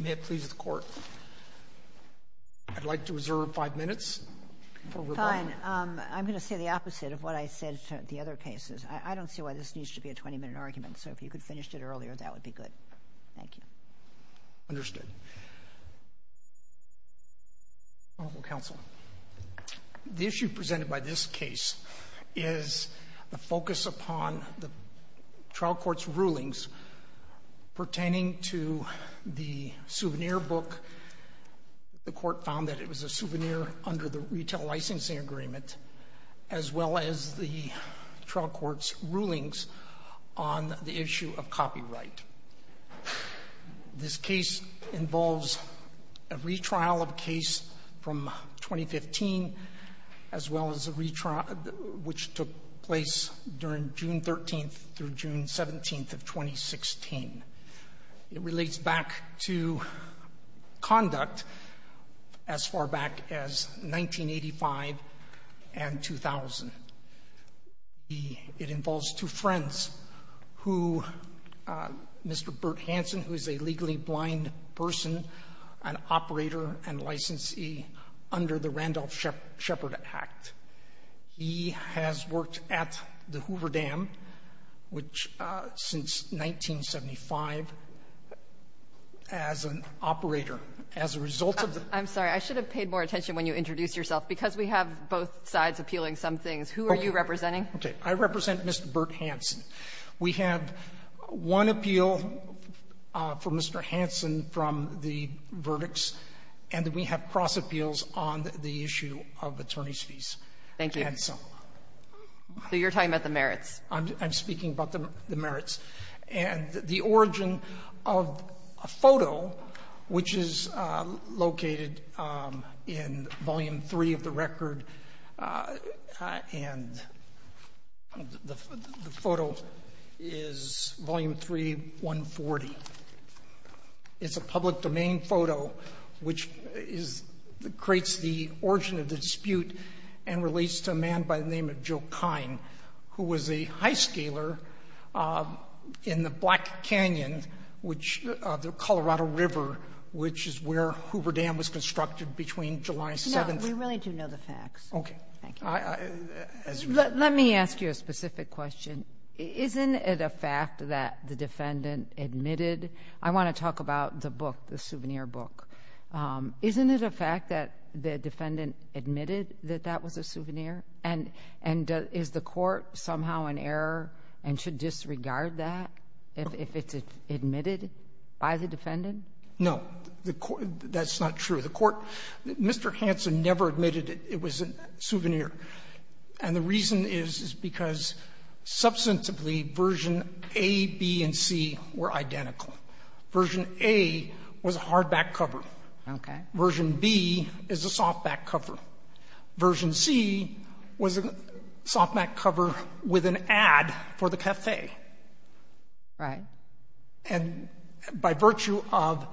May it please the Court, I'd like to reserve five minutes. Fine, I'm going to say the opposite of what I said to the other cases. I don't see why this needs to be a 20-minute argument, so if you could finish it earlier that would be good. Thank you. Understood. Honorable Counsel, the issue presented by this case is the focus upon the trial court's pertaining to the souvenir book. The Court found that it was a souvenir under the retail licensing agreement, as well as the trial court's rulings on the issue of copyright. This case involves a retrial of a case from 2015, as well as a retrial which took place during June 13th through June 17th of 2016. It relates back to conduct as far back as 1985 and 2000. It involves two friends, Mr. Bert Hansen, who is a legally blind person, an operator, and licensee under the Randolph-Shepard Act. He has worked at the Hoover Dam, which since 1975, as an operator. As a result of the ---- I'm sorry. I should have paid more attention when you introduced yourself. Because we have both sides appealing some things, who are you representing? Okay. I represent Mr. Bert Hansen. We have one appeal for Mr. Hansen from the verdicts, and then we have cross appeals on the issue of attorney's fees. Thank you. And so ---- So you're talking about the merits. I'm speaking about the merits. And the origin of a photo, which is located in Volume 3 of the record, and the photo is Volume 3, 140. It's a public domain photo, which creates the origin of the dispute and relates to a man by the name of Joe Kine, who was a high-scaler in the Black Canyon, which the Colorado River, which is where Hoover Dam was constructed between July 7th ---- We really do know the facts. Okay. Thank you. Let me ask you a specific question. Isn't it a fact that the defendant admitted ---- I want to talk about the book, the souvenir book. Isn't it a fact that the defendant admitted that that was a souvenir? And is the Court somehow in error and should disregard that if it's admitted by the defendant? No. That's not true. The Court ---- Mr. Hanson never admitted it was a souvenir. And the reason is, is because substantively, Version A, B, and C were identical. Version A was a hardback cover. Okay. Version B is a softback cover. Version C was a softback cover with an ad for the café. Right. And by virtue of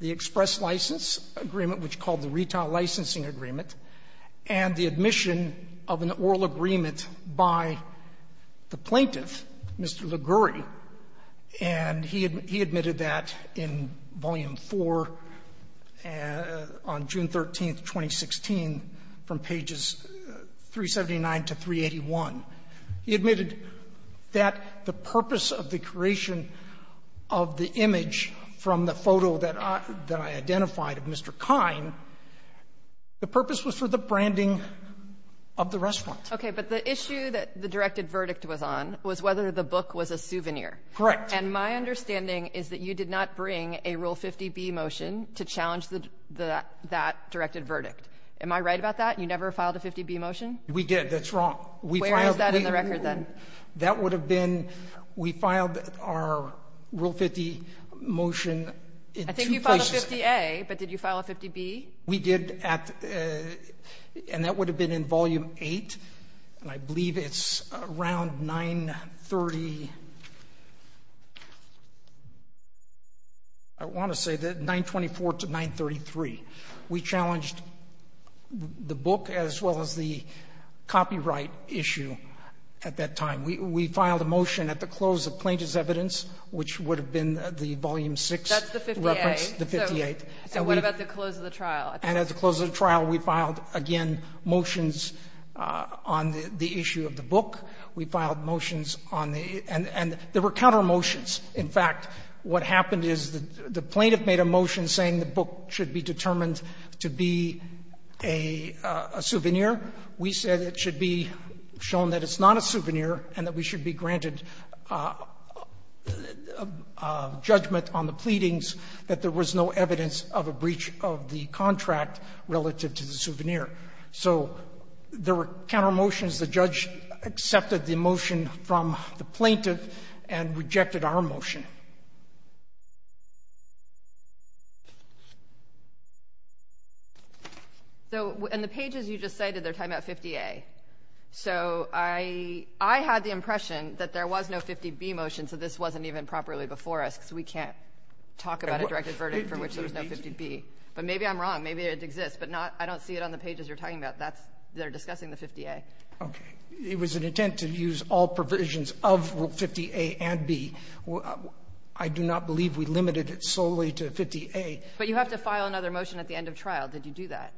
the express license agreement, which is called the Retail Licensing Agreement, and the admission of an oral agreement by the plaintiff, Mr. Liguori, and he admitted that in Volume IV on June 13th, 2016, from pages 379 to 381. He admitted that the purpose of the creation of the image from the photo that I identified of Mr. Kine, the purpose was for the branding of the restaurant. Okay. But the issue that the directed verdict was on was whether the book was a souvenir. Correct. And my understanding is that you did not bring a Rule 50B motion to challenge the ---- that directed verdict. Am I right about that? You never filed a 50B motion? We did. That's wrong. Where is that in the record then? That would have been, we filed our Rule 50 motion in two places. I think you filed a 50A, but did you file a 50B? We did at, and that would have been in Volume VIII, and I believe it's around 930, I want to say that 924 to 933. We challenged the book as well as the copyright issue at that time. We filed a motion at the close of plaintiff's evidence, which would have been the Volume VI reference. That's the 50A. The 50A. So what about the close of the trial? And at the close of the trial, we filed, again, motions on the issue of the book. We filed motions on the ---- and there were counter-motions. In fact, what happened is the plaintiff made a motion saying the book should be determined to be a souvenir. We said it should be shown that it's not a souvenir and that we should be granted judgment on the pleadings, that there was no evidence of a breach of the contract relative to the souvenir. So there were counter-motions. The judge accepted the motion from the plaintiff and rejected our motion, and we filed our motion. So in the pages you just cited, they're talking about 50A. So I had the impression that there was no 50B motion, so this wasn't even properly before us, because we can't talk about a directed verdict for which there was no 50B. But maybe I'm wrong. Maybe it exists, but I don't see it on the pages you're talking about that are discussing the 50A. Okay. It was an intent to use all provisions of 50A and B. I do not believe we limited it solely to 50A. But you have to file another motion at the end of trial. Did you do that?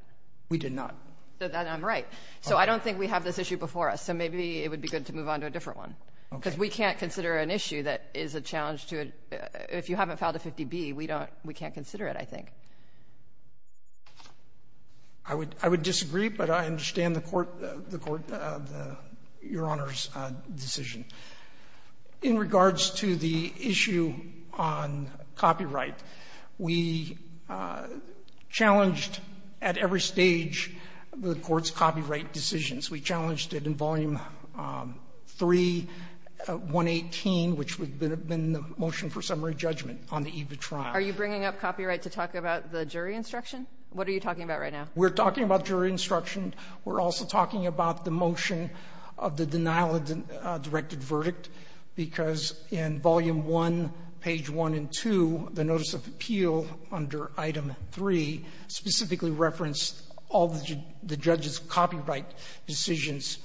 We did not. Then I'm right. So I don't think we have this issue before us. So maybe it would be good to move on to a different one, because we can't consider an issue that is a challenge to a ---- if you haven't filed a 50B, we don't ---- we can't consider it, I think. I would disagree, but I understand the Court, the Court, Your Honor's decision. In regards to the issue on copyright, we challenged at every stage the Court's copyright decisions. We challenged it in Volume 3, 118, which would have been the motion for summary judgment on the eve of trial. Are you bringing up copyright to talk about the jury instruction? What are you talking about right now? We're talking about jury instruction. We're also talking about the motion of the denial of the directed verdict, because in Volume 1, Page 1 and 2, the Notice of Appeal under Item 3 specifically referenced all the judge's copyright decisions.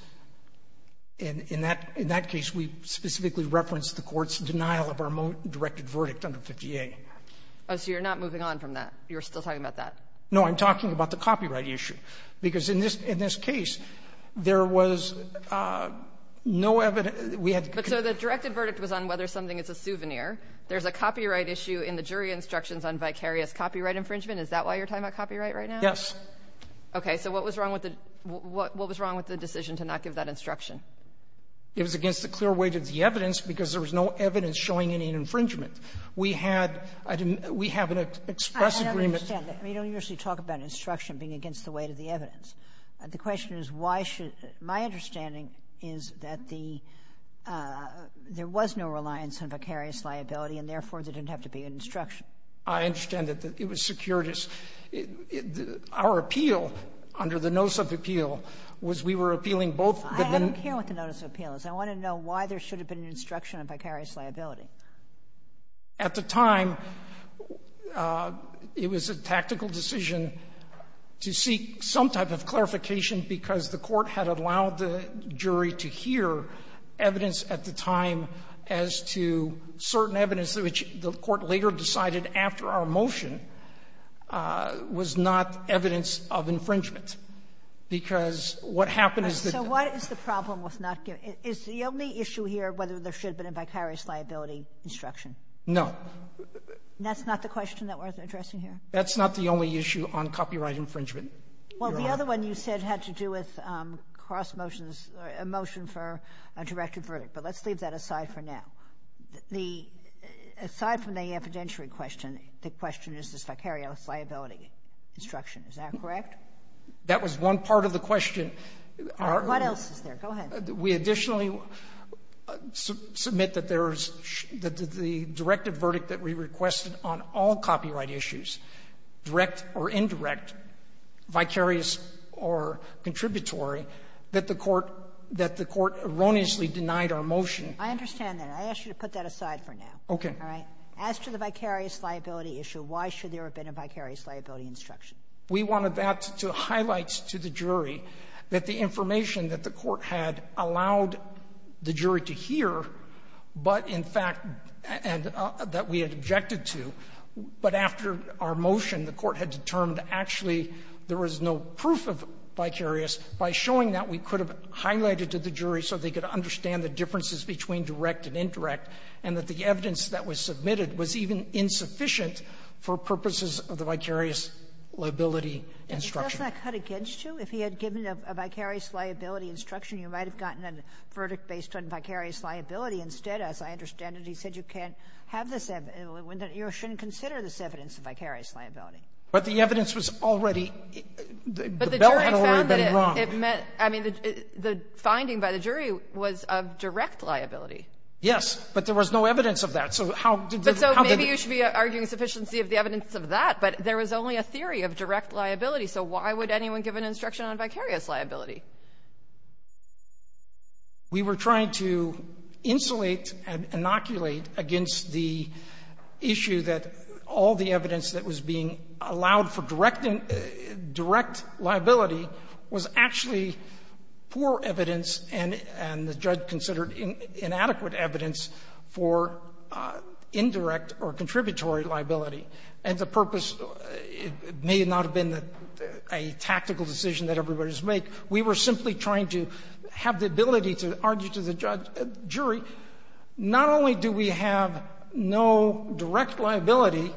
In that case, we specifically referenced the Court's denial of our directed verdict under 50A. Oh, so you're not moving on from that. You're still talking about that. No, I'm talking about the copyright issue, because in this ---- in this case, there was no evidence. We had to ---- But so the directed verdict was on whether something is a souvenir. There's a copyright issue in the jury instructions on vicarious copyright infringement. Is that why you're talking about copyright right now? Yes. Okay. So what was wrong with the ---- what was wrong with the decision to not give that instruction? It was against the clear weight of the evidence, because there was no evidence showing any infringement. We had an ---- we have an express agreement ---- I don't understand that. We don't usually talk about instruction being against the weight of the evidence. The question is why should ---- my understanding is that the ---- there was no reliance on vicarious liability, and therefore, there didn't have to be an instruction. I understand that it was secured as ---- our appeal, under the Notice of Appeal, was we were appealing both the ---- I don't care what the Notice of Appeal is. I want to know why there should have been an instruction on vicarious liability. At the time, it was a tactical decision to seek some type of clarification because the Court had allowed the jury to hear evidence at the time as to certain evidence which the Court later decided after our motion was not evidence of infringement, because what happened is that ---- Kagan. So what is the problem with not giving ---- is the only issue here whether there should have been a vicarious liability instruction? No. That's not the question that we're addressing here? That's not the only issue on copyright infringement, Your Honor. Well, the other one you said had to do with cross motions, a motion for a directed verdict. But let's leave that aside for now. The ---- aside from the evidentiary question, the question is this vicarious liability instruction. Is that correct? That was one part of the question. What else is there? Go ahead. We additionally submit that there is the directive verdict that we requested on all copyright issues, direct or indirect, vicarious or contributory, that the Court erroneously denied our motion. I understand that. I ask you to put that aside for now. Okay. All right? As to the vicarious liability issue, why should there have been a vicarious liability instruction? We wanted that to highlight to the jury that the information that the Court had allowed the jury to hear, but, in fact, and that we had objected to, but after our motion, the Court had determined actually there was no proof of vicarious. By showing that, we could have highlighted to the jury so they could understand the differences between direct and indirect, and that the evidence that was submitted was even insufficient for purposes of the vicarious liability instruction. And does that cut against you? If he had given a vicarious liability instruction, you might have gotten a verdict based on vicarious liability. Instead, as I understand it, he said you can't have this evidence, you shouldn't consider this evidence of vicarious liability. But the evidence was already the bell had already been rung. But the jury found that it meant the finding by the jury was of direct liability. Yes, but there was no evidence of that. So how did the How did the But so maybe you should be arguing sufficiency of the evidence of that. But there was only a theory of direct liability. So why would anyone give an instruction on vicarious liability? We were trying to insulate and inoculate against the issue that all the evidence that was being allowed for direct liability was actually poor evidence, and the judge had considered inadequate evidence for indirect or contributory liability. And the purpose may not have been a tactical decision that everybody's made. We were simply trying to have the ability to argue to the judge, jury, not only do we have no direct liability,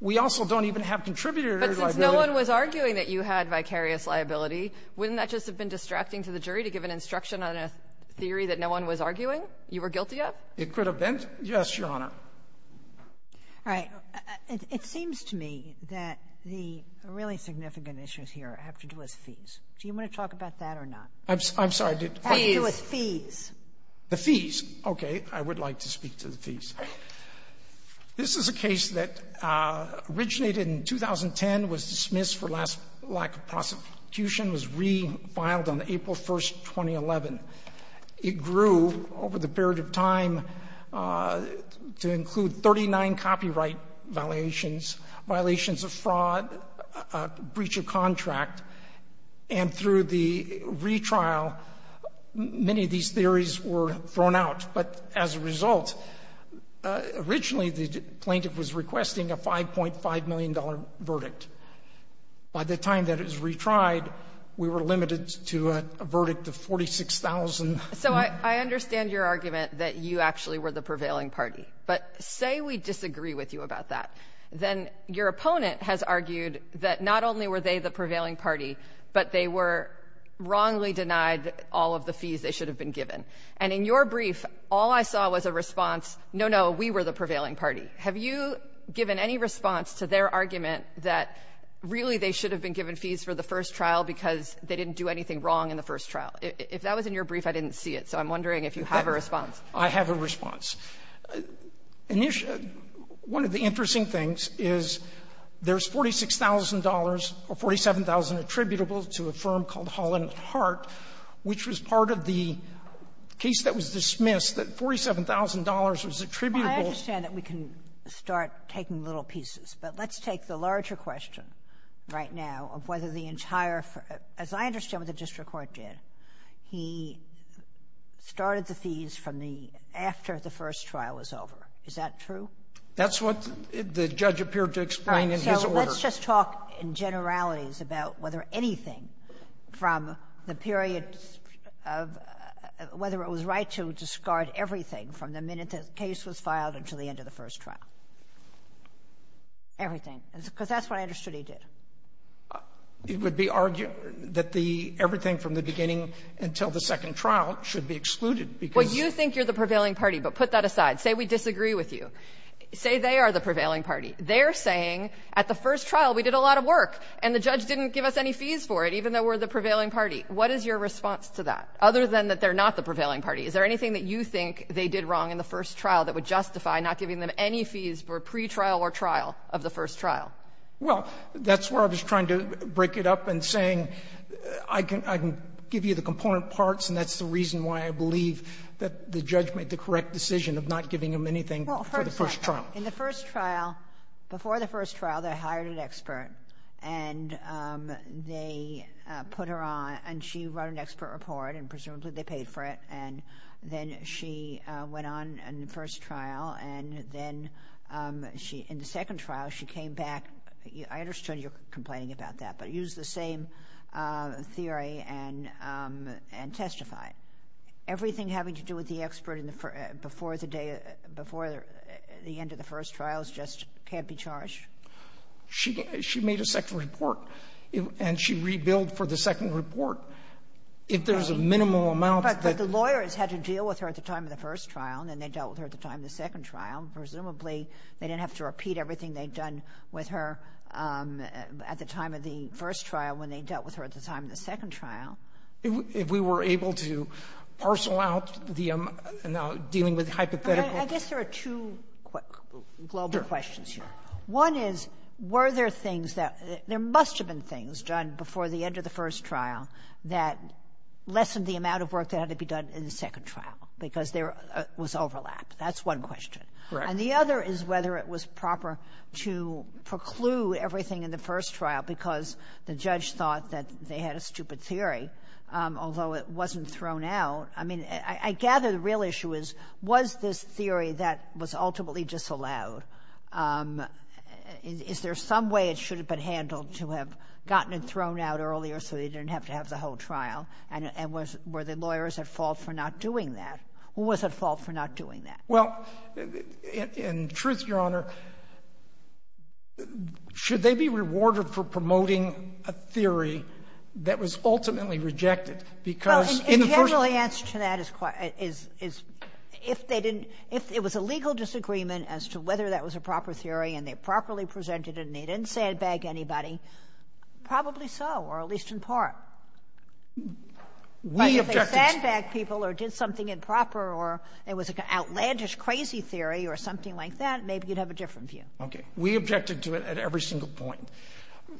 we also don't even have contributory liability. But since no one was arguing that you had vicarious liability, wouldn't that just have been distracting to the jury to give an instruction on a theory that no one was arguing you were guilty of? It could have been. Yes, Your Honor. All right. It seems to me that the really significant issues here have to do with fees. Do you want to talk about that or not? I'm sorry. Fees. It has to do with fees. The fees. Okay. I would like to speak to the fees. This is a case that originated in 2010, was dismissed for lack of prosecution, was refiled on April 1, 2011. It grew over the period of time to include 39 copyright violations, violations of fraud, breach of contract, and through the retrial, many of these theories were thrown out. But as a result, originally the plaintiff was requesting a $5.5 million verdict. By the time that it was retried, we were limited to a verdict of $46,000. So I understand your argument that you actually were the prevailing party. But say we disagree with you about that. Then your opponent has argued that not only were they the prevailing party, but they were wrongly denied all of the fees they should have been given. And in your brief, all I saw was a response, no, no, we were the prevailing party. Have you given any response to their argument that really they should have been given fees for the first trial because they didn't do anything wrong in the first trial? If that was in your brief, I didn't see it. So I'm wondering if you have a response. I have a response. One of the interesting things is there's $46,000 or $47,000 attributable to a firm called Holland and Hart, which was part of the case that was dismissed, that $47,000 was attributable. Sotomayor, I understand that we can start taking little pieces. But let's take the larger question right now of whether the entire ---- as I understand what the district court did, he started the fees from the ---- after the first trial was over. Is that true? That's what the judge appeared to explain in his order. All right. So let's just talk in generalities about whether anything from the period of ---- everything, because that's what I understood he did. It would be argued that the ---- everything from the beginning until the second trial should be excluded because ---- Well, you think you're the prevailing party, but put that aside. Say we disagree with you. Say they are the prevailing party. They're saying at the first trial we did a lot of work, and the judge didn't give us any fees for it, even though we're the prevailing party. What is your response to that, other than that they're not the prevailing party? Is there anything that you think they did wrong in the first trial that would justify not giving them any fees for pre-trial or trial of the first trial? Well, that's where I was trying to break it up and saying I can give you the component parts, and that's the reason why I believe that the judge made the correct decision of not giving them anything for the first trial. In the first trial, before the first trial, they hired an expert, and they put her on, and she wrote an expert report, and presumably they paid for it, and then she went on in the first trial, and then she ---- in the second trial, she came back. I understood you're complaining about that, but use the same theory and testify. Everything having to do with the expert before the day ---- before the end of the first trial just can't be charged? She made a second report, and she rebilled for the second report. If there's a minimal amount that ---- But the lawyers had to deal with her at the time of the first trial, and then they dealt with her at the time of the second trial. Presumably, they didn't have to repeat everything they'd done with her at the time of the first trial when they dealt with her at the time of the second trial. If we were able to parcel out the amount dealing with hypothetical ---- I guess there are two global questions here. One is, were there things that ---- there must have been things done before the end of the first trial that lessened the amount of work that had to be done in the second trial, because there was overlap. That's one question. Right. And the other is whether it was proper to preclude everything in the first trial because the judge thought that they had a stupid theory, although it wasn't thrown out. I mean, I gather the real issue is, was this theory that was ultimately disallowed ---- is there some way it should have been handled to have gotten it thrown out earlier so they didn't have to have the whole trial? And was the lawyers at fault for not doing that? Who was at fault for not doing that? Well, in truth, Your Honor, should they be rewarded for promoting a theory that was ultimately rejected? Because in the first ---- Well, the general answer to that is quite ---- is if they didn't ---- if it was a legal disagreement as to whether that was a proper theory and they properly presented it and they didn't sandbag anybody, probably so, or at least in part. We objected to it. But if they sandbagged people or did something improper or it was an outlandish, crazy theory or something like that, maybe you'd have a different view. Okay. We objected to it at every single point.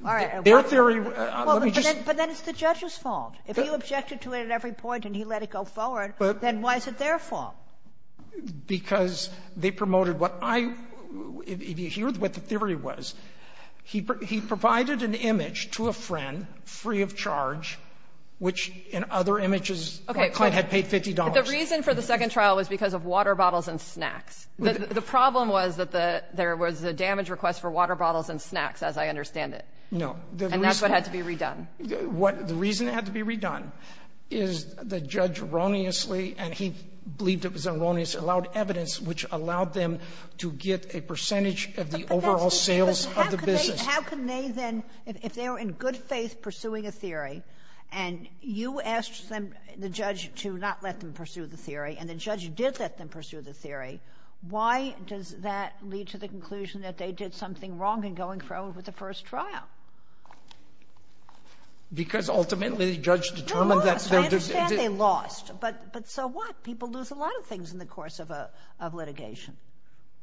All right. Their theory ---- Well, but then it's the judge's fault. If he objected to it at every point and he let it go forward, then why is it their fault? Because they promoted what I ---- if you hear what the theory was, he provided an image to a friend free of charge, which in other images, the client had paid $50. Okay. But the reason for the second trial was because of water bottles and snacks. The problem was that there was a damage request for water bottles and snacks, as I understand it. No. And that's what had to be redone. What the reason it had to be redone is the judge erroneously, and he believed it was erroneous, allowed evidence which allowed them to get a percentage of the overall sales of the business. But how could they then, if they were in good faith pursuing a theory, and you asked them, the judge, to not let them pursue the theory, and the judge did let them pursue the theory, why does that lead to the conclusion that they did something wrong in going forward with the first trial? Because ultimately, the judge determined that they're just ---- They lost. I understand they lost. But so what? People lose a lot of things in the course of a litigation.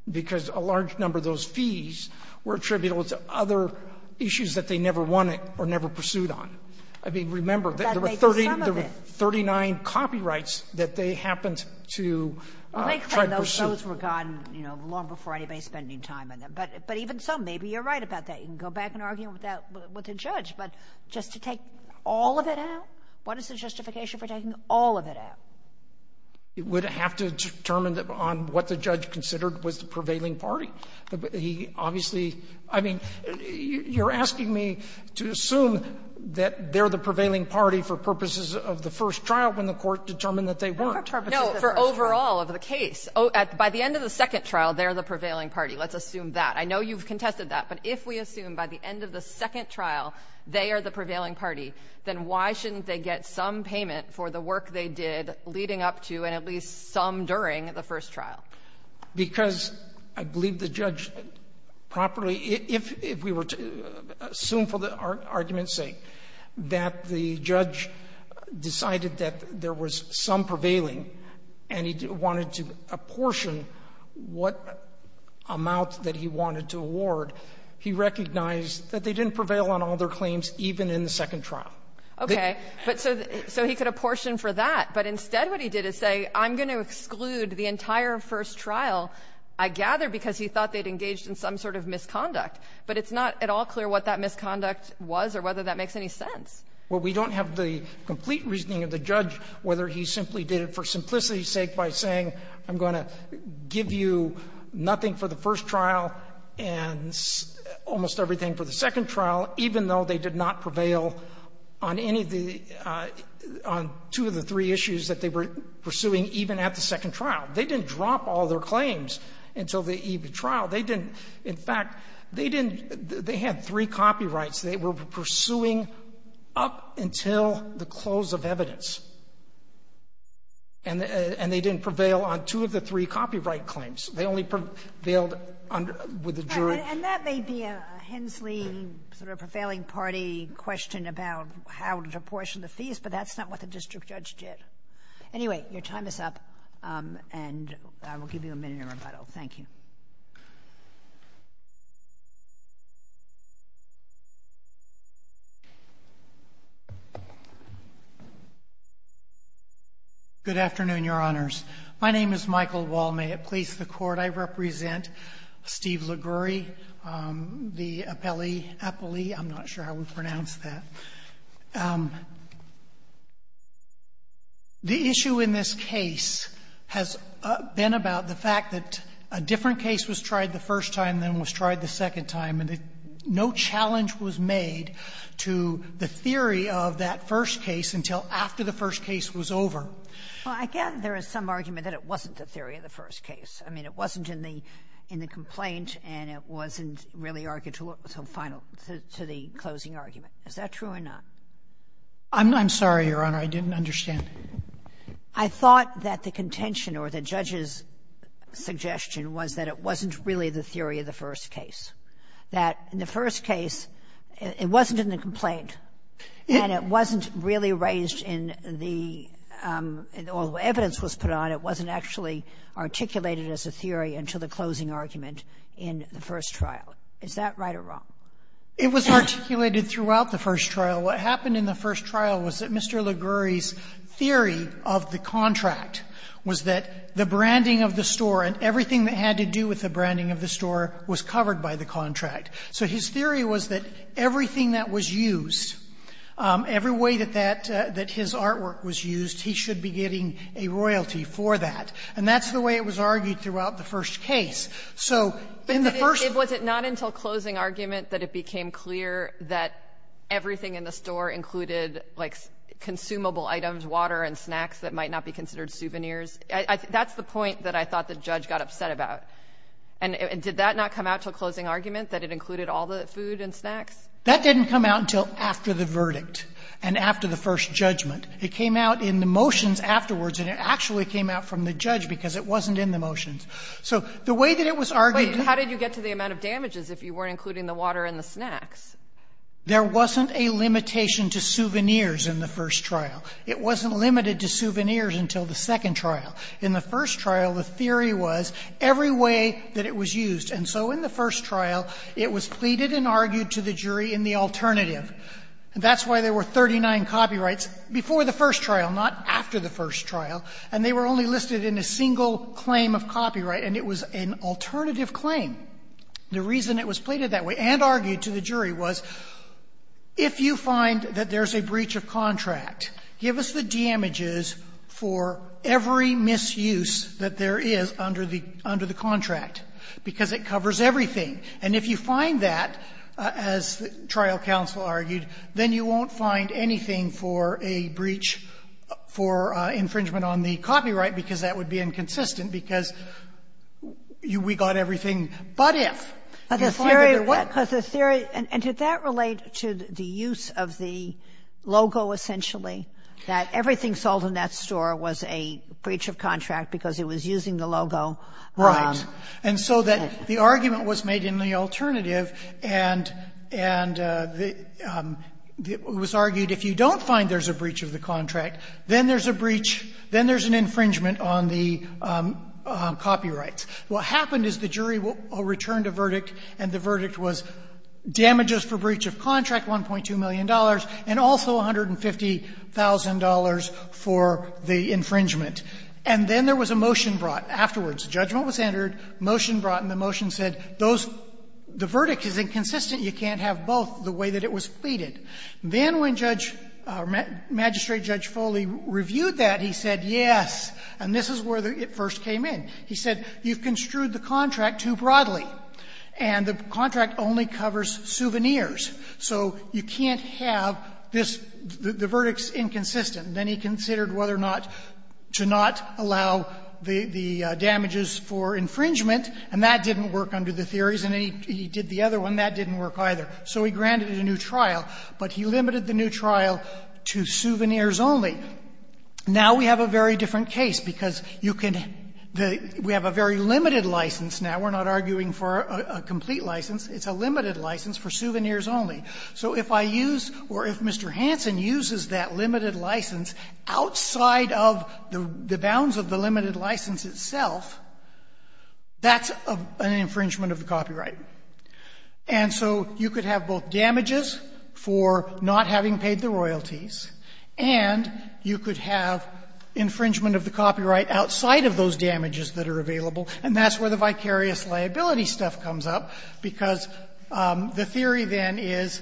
Because a large number of those fees were attributable to other issues that they never wanted or never pursued on. I mean, remember, there were 39 copyrights that they happened to try to pursue. Those were gone, you know, long before anybody spending time on them. But even so, maybe you're right about that. You can go back and argue with that with the judge. But just to take all of it out, what is the justification for taking all of it out? It would have to determine on what the judge considered was the prevailing party. He obviously ---- I mean, you're asking me to assume that they're the prevailing party for purposes of the first trial when the Court determined that they weren't. No, for purposes of the first trial. No, for overall of the case. By the end of the second trial, they're the prevailing party. Let's assume that. I know you've contested that. But if we assume by the end of the second trial, they are the prevailing party, then why shouldn't they get some payment for the work they did leading up to and at least some during the first trial? Because I believe the judge properly ---- if we were to assume for the argument's sake that the judge decided that there was some prevailing and he wanted to apportion what amount that he wanted to award, he recognized that they didn't prevail on all their claims even in the second trial. Okay. But so he could apportion for that, but instead what he did is say, I'm going to exclude the entire first trial, I gather, because he thought they'd engaged in some sort of misconduct. But it's not at all clear what that misconduct was or whether that makes any sense. Well, we don't have the complete reasoning of the judge whether he simply did it for simplicity's sake by saying, I'm going to give you nothing for the first trial and almost everything for the second trial, even though they did not prevail on any of the ---- on two of the three issues that they were pursuing even at the second trial. They didn't drop all their claims until the EV trial. They didn't ---- in fact, they didn't ---- they had three copyrights they were pursuing up until the close of evidence. And they didn't prevail on two of the three copyright claims. They only prevailed under ---- with the jury. And that may be a Hensley sort of prevailing party question about how to apportion the fees, but that's not what the district judge did. Anyway, your time is up, and I will give you a minute in rebuttal. Thank you. Good afternoon, Your Honors. My name is Michael Wall. May it please the Court, I represent Steve Liguori, the appellee, I'm not sure how we pronounce that. The issue in this case has been about the fact that a different case was tried the first time than was tried the second time, and no challenge was made to the theory of that first case until after the first case was over. Well, I gather there is some argument that it wasn't the theory of the first case. I mean, it wasn't in the complaint, and it wasn't really argued to the final, to the closing argument. Is that true or not? I'm sorry, Your Honor. I didn't understand. I thought that the contention or the judge's suggestion was that it wasn't really the theory of the first case, that in the first case, it wasn't in the complaint, and it wasn't really raised in the all the evidence was put on, it wasn't actually articulated as a theory until the closing argument in the first trial. Is that right or wrong? It was articulated throughout the first trial. What happened in the first trial was that Mr. Liguori's theory of the contract was that the branding of the store and everything that had to do with the branding of the store was covered by the contract. So his theory was that everything that was used, every way that that his artwork was used, he should be getting a royalty for that. And that's the way it was argued throughout the first case. So in the first case, it was not until closing argument that it became clear that everything in the store included, like, consumable items, water and snacks that might not be considered souvenirs. That's the point that I thought the judge got upset about. And did that not come out until closing argument, that it included all the food and snacks? That didn't come out until after the verdict and after the first judgment. It came out in the motions afterwards, and it actually came out from the judge because it wasn't in the motions. So the way that it was argued to be the way that it was argued to be the way that there wasn't a limitation to souvenirs in the first trial. It wasn't limited to souvenirs until the second trial. In the first trial, the theory was every way that it was used. And so in the first trial, it was pleaded and argued to the jury in the alternative. That's why there were 39 copyrights before the first trial, not after the first trial, and they were only listed in a single claim of copyright, and it was an alternative claim. The reason it was pleaded that way and argued to the jury was if you find that there's a breach of contract, give us the damages for every misuse that there is under the under the contract, because it covers everything. And if you find that, as the trial counsel argued, then you won't find anything for a breach for infringement on the copyright, because that would be inconsistent, because we got everything but if. And if I were to what the theory. And did that relate to the use of the logo, essentially, that everything sold in that store was a breach of contract because it was using the logo? Right. And so that the argument was made in the alternative, and it was argued if you don't find there's a breach of the contract, then there's a breach, then there's an infringement on the copyrights. What happened is the jury returned a verdict, and the verdict was damages for breach of contract, $1.2 million, and also $150,000 for the infringement. And then there was a motion brought afterwards. Judgment was entered, motion brought, and the motion said those the verdict is inconsistent. You can't have both the way that it was pleaded. Then when Judge or Magistrate Judge Foley reviewed that, he said, yes, and this is where it first came in. He said, you've construed the contract too broadly, and the contract only covers souvenirs. So you can't have this, the verdict's inconsistent. Then he considered whether or not to not allow the damages for infringement, and that didn't work under the theories. And then he did the other one. That didn't work either. So he granted it a new trial. But he limited the new trial to souvenirs only. Now we have a very different case, because you can the we have a very limited license now. We're not arguing for a complete license. It's a limited license for souvenirs only. So if I use or if Mr. Hansen uses that limited license outside of the bounds of the limited license itself, that's an infringement of the copyright. And so you could have both damages for not having paid the royalties, and you could have infringement of the copyright outside of those damages that are available. And that's where the vicarious liability stuff comes up, because the theory, then, is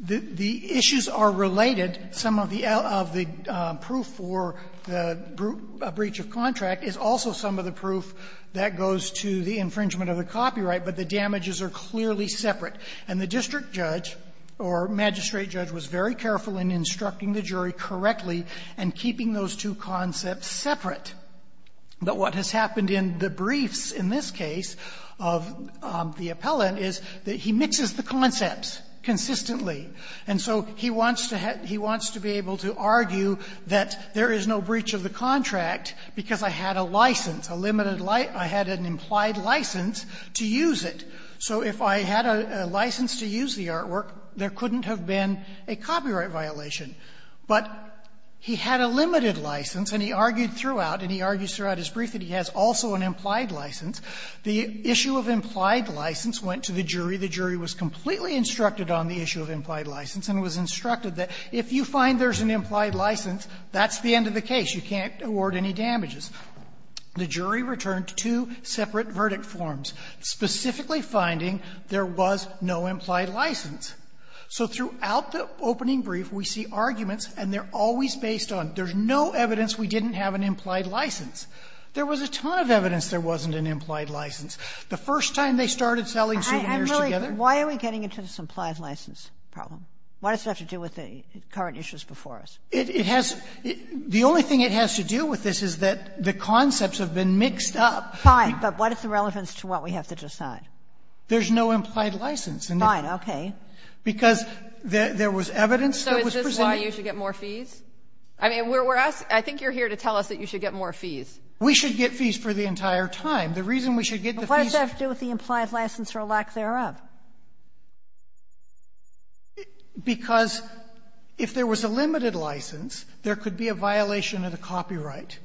the issues are related. Some of the proof for the breach of contract is also some of the proof that goes to the infringement of the copyright, but the damages are clearly separate. And the district judge or magistrate judge was very careful in instructing the jury correctly and keeping those two concepts separate. But what has happened in the briefs in this case of the appellant is that he mixes the concepts consistently. And so he wants to have he wants to be able to argue that there is no breach of the So if I had a license to use the artwork, there couldn't have been a copyright violation. But he had a limited license, and he argued throughout, and he argues throughout his brief that he has also an implied license. The issue of implied license went to the jury. The jury was completely instructed on the issue of implied license and was instructed that if you find there's an implied license, that's the end of the case. You can't award any damages. The jury returned two separate verdict forms, specifically finding there was no implied license. So throughout the opening brief, we see arguments, and they're always based on there's no evidence we didn't have an implied license. There was a ton of evidence there wasn't an implied license. The first time they started selling souvenirs together they said there was an implied license. Kagan, I'm really, why are we getting into this implied license problem? Why does it have to do with the current issues before us? It has the only thing it has to do with this is that the concepts have been mixed up. Fine. But what is the relevance to what we have to decide? There's no implied license. Fine. Okay. Because there was evidence that was presented. So is this why you should get more fees? I mean, we're asking, I think you're here to tell us that you should get more fees. We should get fees for the entire time. The reason we should get the fees. But what does that have to do with the implied license or lack thereof? Because if there was a limited license, there could be a violation of the copyright.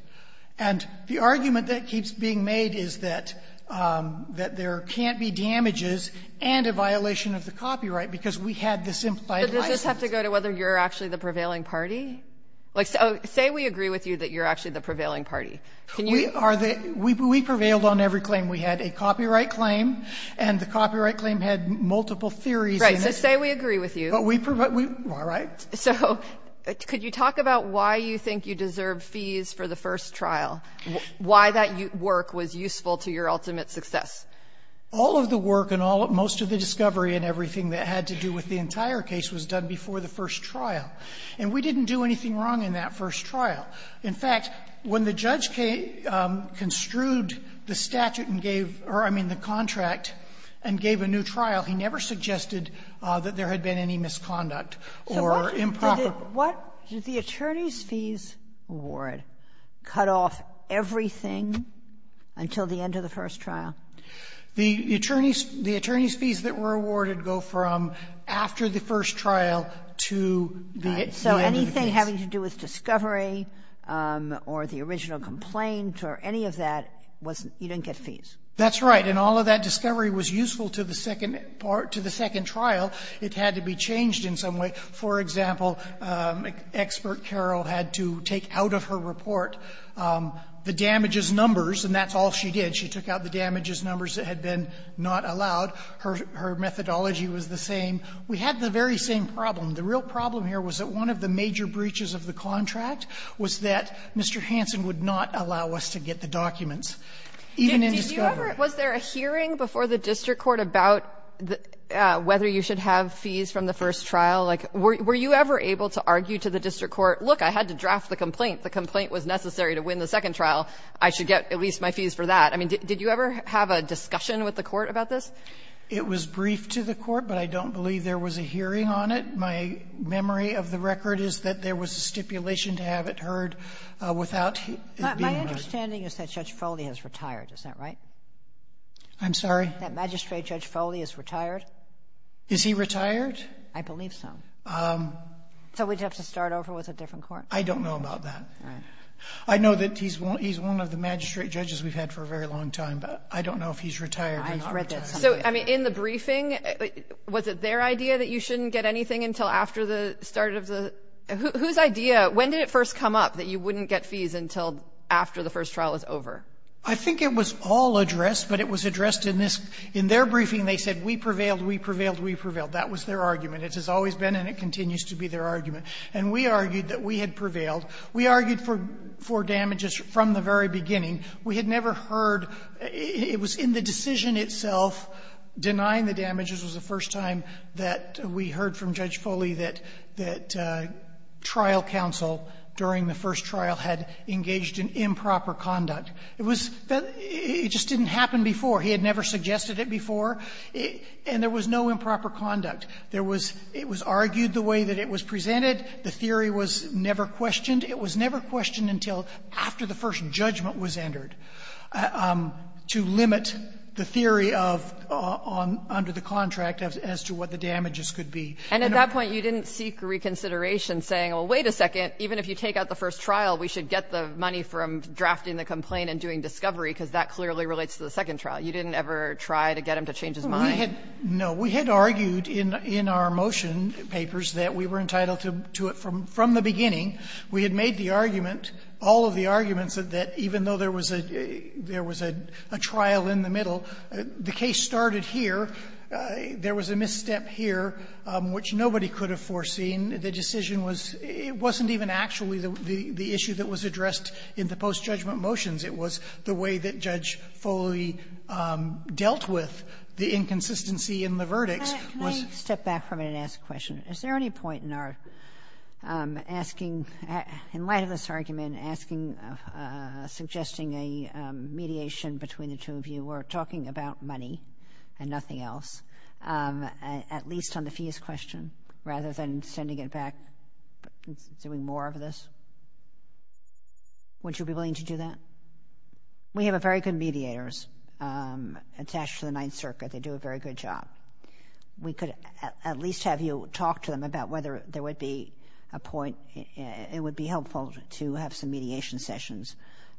And the argument that keeps being made is that there can't be damages and a violation of the copyright because we had this implied license. But does this have to go to whether you're actually the prevailing party? Like, say we agree with you that you're actually the prevailing party. Can you are the We prevailed on every claim. We had a copyright claim, and the copyright claim had multiple theories. Right. So say we agree with you. But we provide we all right. So could you talk about why you think you deserve fees for the first trial? Why that work was useful to your ultimate success? All of the work and all of most of the discovery and everything that had to do with the entire case was done before the first trial. And we didn't do anything wrong in that first trial. In fact, when the judge construed the statute and gave or, I mean, the contract and gave a new trial, he never suggested that there had been any misconduct or improper. So what did the attorney's fees award cut off everything until the end of the first trial? The attorney's fees that were awarded go from after the first trial to the end of the case. So everything having to do with discovery or the original complaint or any of that, you didn't get fees. That's right. And all of that discovery was useful to the second part, to the second trial. It had to be changed in some way. For example, expert Carroll had to take out of her report the damages numbers, and that's all she did. She took out the damages numbers that had been not allowed. Her methodology was the same. We had the very same problem. The real problem here was that one of the major breaches of the contract was that Mr. Hansen would not allow us to get the documents, even in discovery. Did you ever – was there a hearing before the district court about whether you should have fees from the first trial? Like, were you ever able to argue to the district court, look, I had to draft the complaint, the complaint was necessary to win the second trial, I should get at least my fees for that? I mean, did you ever have a discussion with the court about this? It was briefed to the court, but I don't believe there was a hearing on it. My memory of the record is that there was a stipulation to have it heard without it being heard. My understanding is that Judge Foley has retired. Is that right? I'm sorry? That Magistrate Judge Foley has retired. Is he retired? I believe so. So we'd have to start over with a different court? I don't know about that. All right. I know that he's one of the magistrate judges we've had for a very long time, but I don't know if he's retired or not retired. So, I mean, in the briefing, was it their idea that you shouldn't get anything until after the start of the — whose idea — when did it first come up that you wouldn't get fees until after the first trial was over? I think it was all addressed, but it was addressed in this — in their briefing, they said we prevailed, we prevailed, we prevailed. That was their argument. It has always been and it continues to be their argument. And we argued that we had prevailed. We argued for damages from the very beginning. We had never heard — it was in the decision itself, denying the damages was the first time that we heard from Judge Foley that trial counsel during the first trial had engaged in improper conduct. It was — it just didn't happen before. He had never suggested it before, and there was no improper conduct. There was — it was argued the way that it was presented. The theory was never questioned. It was never questioned until after the first judgment was entered to limit the theory of — under the contract as to what the damages could be. And at that point, you didn't seek reconsideration, saying, well, wait a second, even if you take out the first trial, we should get the money from drafting the complaint and doing discovery, because that clearly relates to the second trial. You didn't ever try to get him to change his mind. No. We had argued in our motion papers that we were entitled to it from the beginning. We had made the argument, all of the arguments, that even though there was a — there was a trial in the middle, the case started here. There was a misstep here, which nobody could have foreseen. The decision was — it wasn't even actually the issue that was addressed in the post-judgment motions. It was the way that Judge Foley dealt with the inconsistency in the verdicts was — Back for a minute and ask a question. Is there any point in our asking — in light of this argument, asking, suggesting a mediation between the two of you, or talking about money and nothing else, at least on the fees question rather than sending it back, doing more of this? Would you be willing to do that? We have very good mediators attached to the Ninth Circuit. They do a very good job. We could at least have you talk to them about whether there would be a point — it would be helpful to have some mediation sessions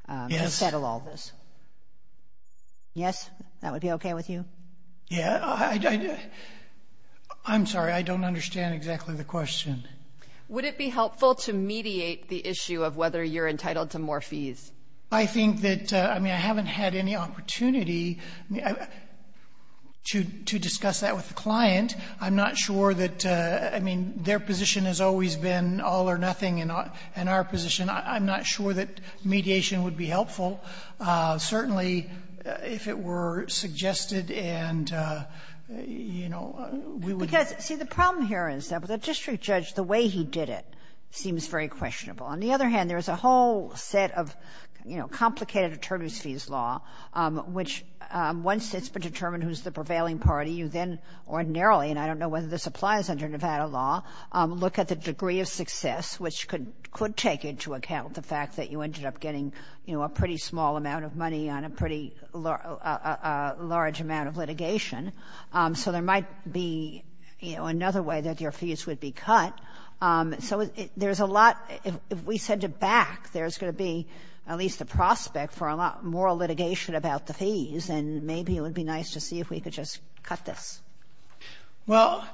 to settle all this. Yes. Yes? That would be okay with you? Yeah. I'm sorry. I don't understand exactly the question. Would it be helpful to mediate the issue of whether you're entitled to more fees? I think that — I mean, I haven't had any opportunity to discuss that with the client. I'm not sure that — I mean, their position has always been all or nothing in our position. I'm not sure that mediation would be helpful. Certainly, if it were suggested and, you know, we would — Because, see, the problem here is that with a district judge, the way he did it seems very questionable. On the other hand, there's a whole set of, you know, complicated attorneys' fees law, which once it's been determined who's the prevailing party, you then ordinarily — and I don't know whether this applies under Nevada law — look at the degree of success, which could take into account the fact that you ended up getting, you know, a pretty small amount of money on a pretty large amount of litigation. So there might be, you know, another way that your fees would be cut. So there's a lot — if we send it back, there's going to be at least a prospect for a lot more litigation about the fees, and maybe it would be nice to see if we could just cut this. Well,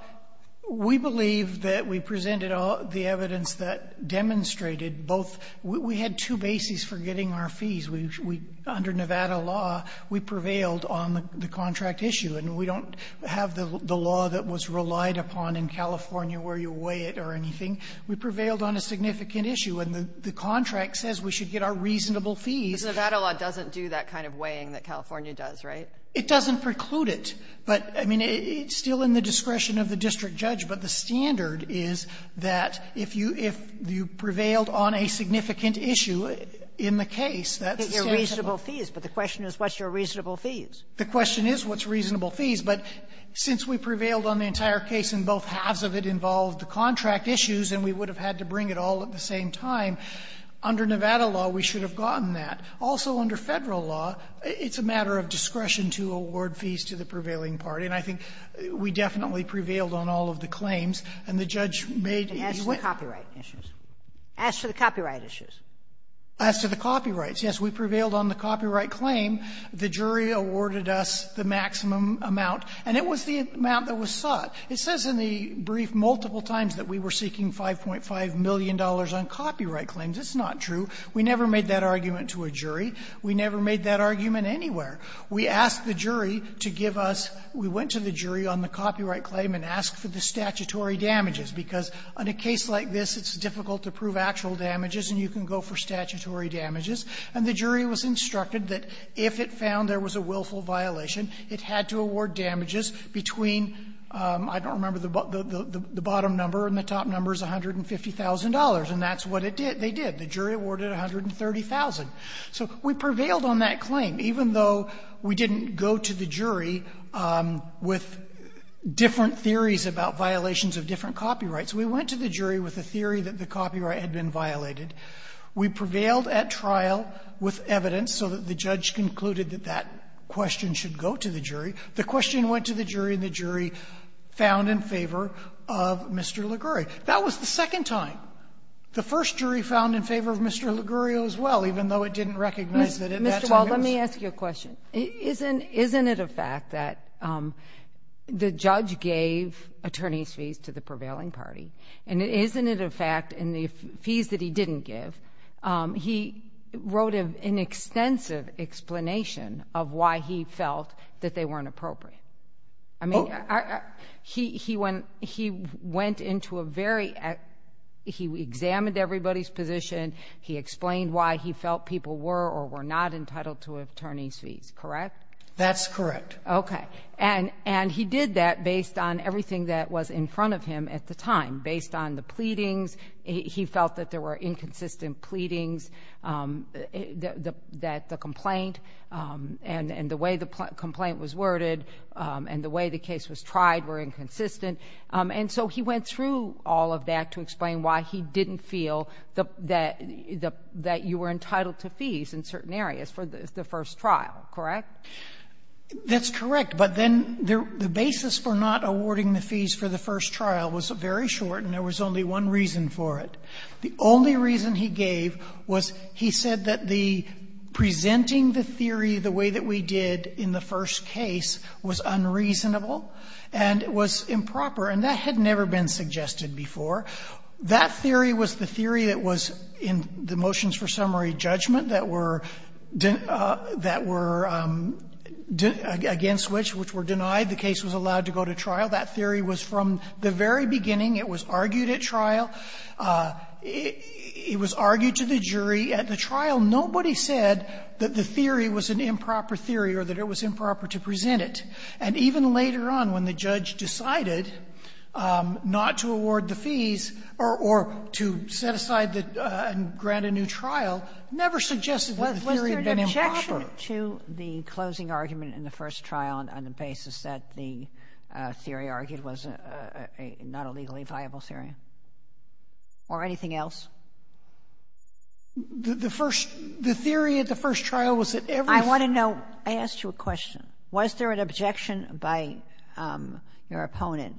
we believe that we presented the evidence that demonstrated both — we had two bases for getting our fees. We — under Nevada law, we prevailed on the contract issue, and we don't have the that was relied upon in California where you weigh it or anything. We prevailed on a significant issue, and the contract says we should get our reasonable fees. But Nevada law doesn't do that kind of weighing that California does, right? It doesn't preclude it. But, I mean, it's still in the discretion of the district judge. But the standard is that if you — if you prevailed on a significant issue in the case, that's the standard. Get your reasonable fees. But the question is, what's your reasonable fees? The question is, what's reasonable fees? But since we prevailed on the entire case and both halves of it involved the contract issues, and we would have had to bring it all at the same time, under Nevada law, we should have gotten that. Also, under Federal law, it's a matter of discretion to award fees to the prevailing party. And I think we definitely prevailed on all of the claims. And the judge made — And as with copyright issues. As to the copyright issues. As to the copyrights, yes, we prevailed on the copyright claim. The jury awarded us the maximum amount. And it was the amount that was sought. It says in the brief multiple times that we were seeking $5.5 million on copyright claims. It's not true. We never made that argument to a jury. We never made that argument anywhere. We asked the jury to give us — we went to the jury on the copyright claim and asked for the statutory damages, because on a case like this, it's difficult to prove actual damages, and you can go for statutory damages. And the jury was instructed that if it found there was a willful violation, it had to award damages between — I don't remember the bottom number and the top number is $150,000. And that's what it did. They did. The jury awarded $130,000. So we prevailed on that claim, even though we didn't go to the jury with different theories about violations of different copyrights. We went to the jury with a theory that the copyright had been violated. We prevailed at trial with evidence so that the judge concluded that that question should go to the jury. The question went to the jury, and the jury found in favor of Mr. Ligurio. That was the second time. The first jury found in favor of Mr. Ligurio as well, even though it didn't recognize that at that time it was — Kagan. Let me ask you a question. Isn't — isn't it a fact that the judge gave attorney's fees to the prevailing party, and isn't it a fact in the fees that he didn't give, he wrote an extensive explanation of why he felt that they weren't appropriate? I mean, he went — he went into a very — he examined everybody's position. He explained why he felt people were or were not entitled to attorney's fees, correct? That's correct. Okay. And he did that based on everything that was in front of him at the time, based on the pleadings. He felt that there were inconsistent pleadings, that the complaint and the way the complaint was worded and the way the case was tried were inconsistent. And so he went through all of that to explain why he didn't feel that — that you were entitled to fees in certain areas for the first trial, correct? That's correct. But then the basis for not awarding the fees for the first trial was very short, and there was only one reason for it. The only reason he gave was he said that the — presenting the theory the way that we did in the first case was unreasonable and was improper, and that had never been suggested before. That theory was the theory that was in the motions for summary judgment that were against which, which were denied, the case was allowed to go to trial. That theory was from the very beginning. It was argued at trial. It was argued to the jury at the trial. Nobody said that the theory was an improper theory or that it was improper to present it. And even later on, when the judge decided not to award the fees or to set aside the — and grant a new trial, never suggested that the theory had been improper. Was there an objection to the closing argument in the first trial on the basis that the theory argued was not a legally viable theory or anything else? The first — the theory at the first trial was that every — I want to know — I asked you a question. Was there an objection by your opponent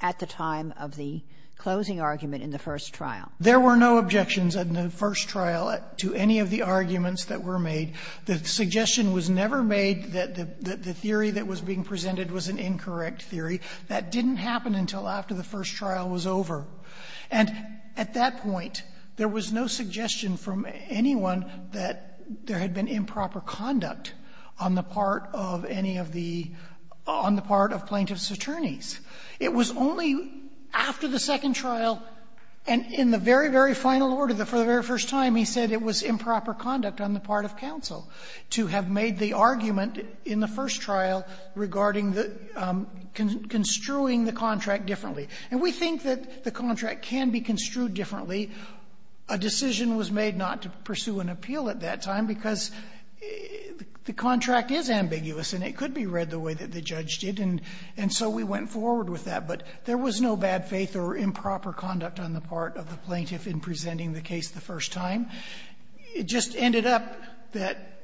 at the time of the closing argument in the first trial? There were no objections in the first trial to any of the arguments that were made. The suggestion was never made that the theory that was being presented was an incorrect theory. That didn't happen until after the first trial was over. And at that point, there was no suggestion from anyone that there had been improper conduct on the part of any of the — on the part of plaintiff's attorneys. It was only after the second trial, and in the very, very final order, for the very first time, he said it was improper conduct on the part of counsel to have made the argument in the first trial regarding the — construing the contract differently. And we think that the contract can be construed differently. A decision was made not to pursue an appeal at that time because the contract is ambiguous, and it could be read the way that the judge did. And so we went forward with that. But there was no bad faith or improper conduct on the part of the plaintiff in presenting the case the first time. It just ended up that,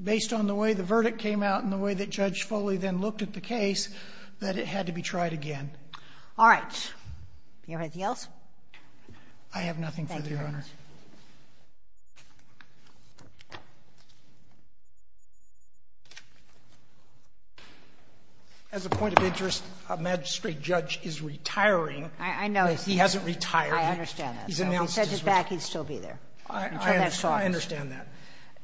based on the way the verdict came out and the way that Judge Foley then looked at the case, that it had to be tried again. All right. Do you have anything else? I have nothing further, Your Honor. Thank you, Your Honor. As a point of interest, a magistrate judge is retiring. I know. He hasn't retired. I understand that. So if he said he's back, he'd still be there. I understand that.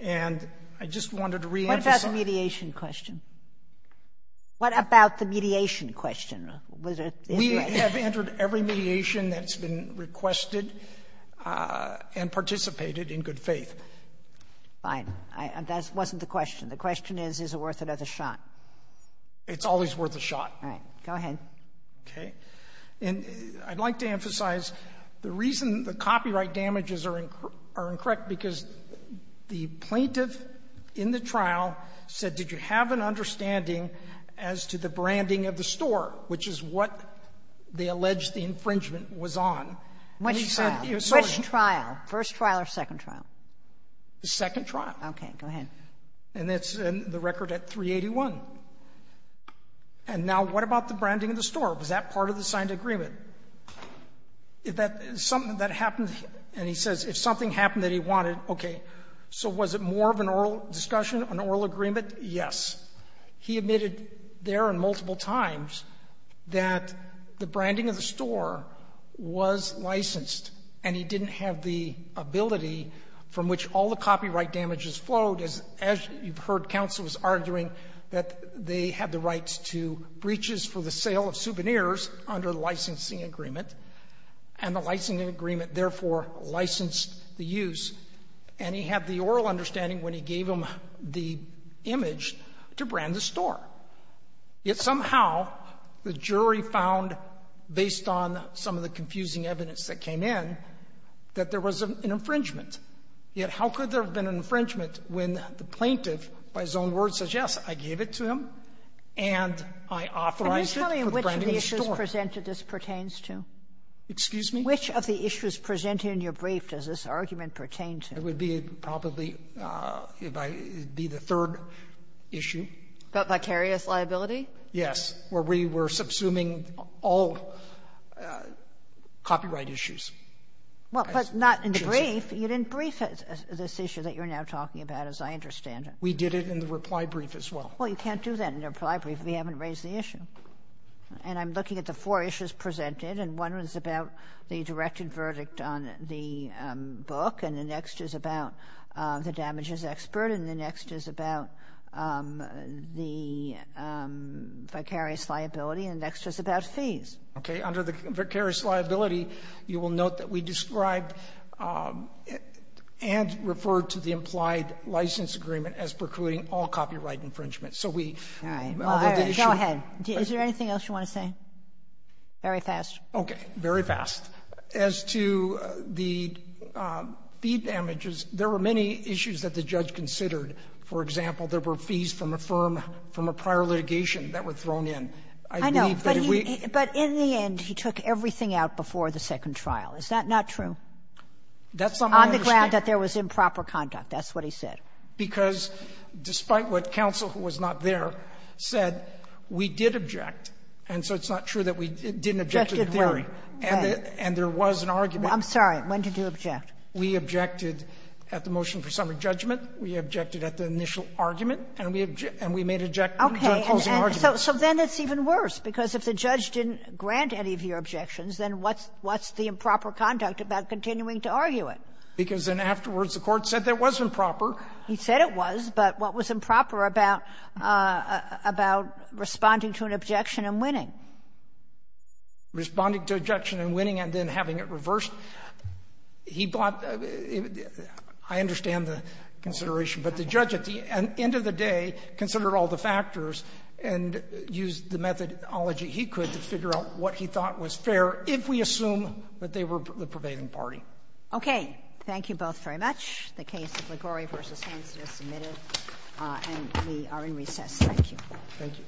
And I just wanted to reemphasize — What about the mediation question? What about the mediation question? We have entered every mediation that's been requested and participated in good faith. Fine. That wasn't the question. The question is, is it worth another shot? It's always worth a shot. All right. Go ahead. Okay. And I'd like to emphasize the reason the copyright damages are incorrect, because the plaintiff in the trial said, did you have an understanding as to the branding of the store, which is what they allege the infringement was on? And he said it was sort of the same. Which trial? First trial or second trial? The second trial. Okay. Go ahead. And it's in the record at 381. And now what about the branding of the store? Was that part of the signed agreement? If that is something that happened, and he says if something happened that he wanted, okay. So was it more of an oral discussion, an oral agreement? Yes. He admitted there and multiple times that the branding of the store was licensed, and he didn't have the ability from which all the copyright damages flowed. As you've heard, counsel was arguing that they had the rights to breaches for the sale of souvenirs under the licensing agreement, and the licensing agreement, therefore, licensed the use. And he had the oral understanding when he gave him the image to brand the store. Yet somehow the jury found, based on some of the confusing evidence that came in, that there was an infringement. Yet how could there have been an infringement when the plaintiff, by his own words, says, yes, I gave it to him, and I authorized it for the branding of the store? Can you tell me which of the issues presented this pertains to? Excuse me? Which of the issues presented in your brief does this argument pertain to? It would be probably the third issue. About vicarious liability? Yes, where we were subsuming all copyright issues. Well, but not in the brief. You didn't brief this issue that you're now talking about, as I understand it. We did it in the reply brief as well. Well, you can't do that in a reply brief if you haven't raised the issue. And I'm looking at the four issues presented, and one was about the directed verdict on the book, and the next is about the damages expert, and the next is about the vicarious liability, and the next is about fees. Okay. Under the vicarious liability, you will note that we described and referred to the implied license agreement as precluding all copyright infringement. So we already did the issue. Is there anything else you want to say? Very fast. Okay. Very fast. As to the fee damages, there were many issues that the judge considered. For example, there were fees from a firm, from a prior litigation that were thrown in. I believe that if we ---- I know. But in the end, he took everything out before the second trial. Is that not true? That's what I understand. On the ground that there was improper conduct. That's what he said. Because despite what counsel, who was not there, said, we did object. And so it's not true that we didn't object to the theory. And there was an argument. I'm sorry. When did you object? We objected at the motion for summary judgment. We objected at the initial argument. And we objected to closing arguments. Okay. So then it's even worse, because if the judge didn't grant any of your objections, then what's the improper conduct about continuing to argue it? Because then afterwards, the Court said that was improper. He said it was. But what was improper about responding to an objection and winning? Responding to objection and winning and then having it reversed, he bought the ---- I understand the consideration. But the judge, at the end of the day, considered all the factors and used the methodology he could to figure out what he thought was fair if we assume that they were the prevailing party. Okay. Thank you both very much. The case of Liguori v. Hanson is submitted, and we are in recess. Thank you. Thank you.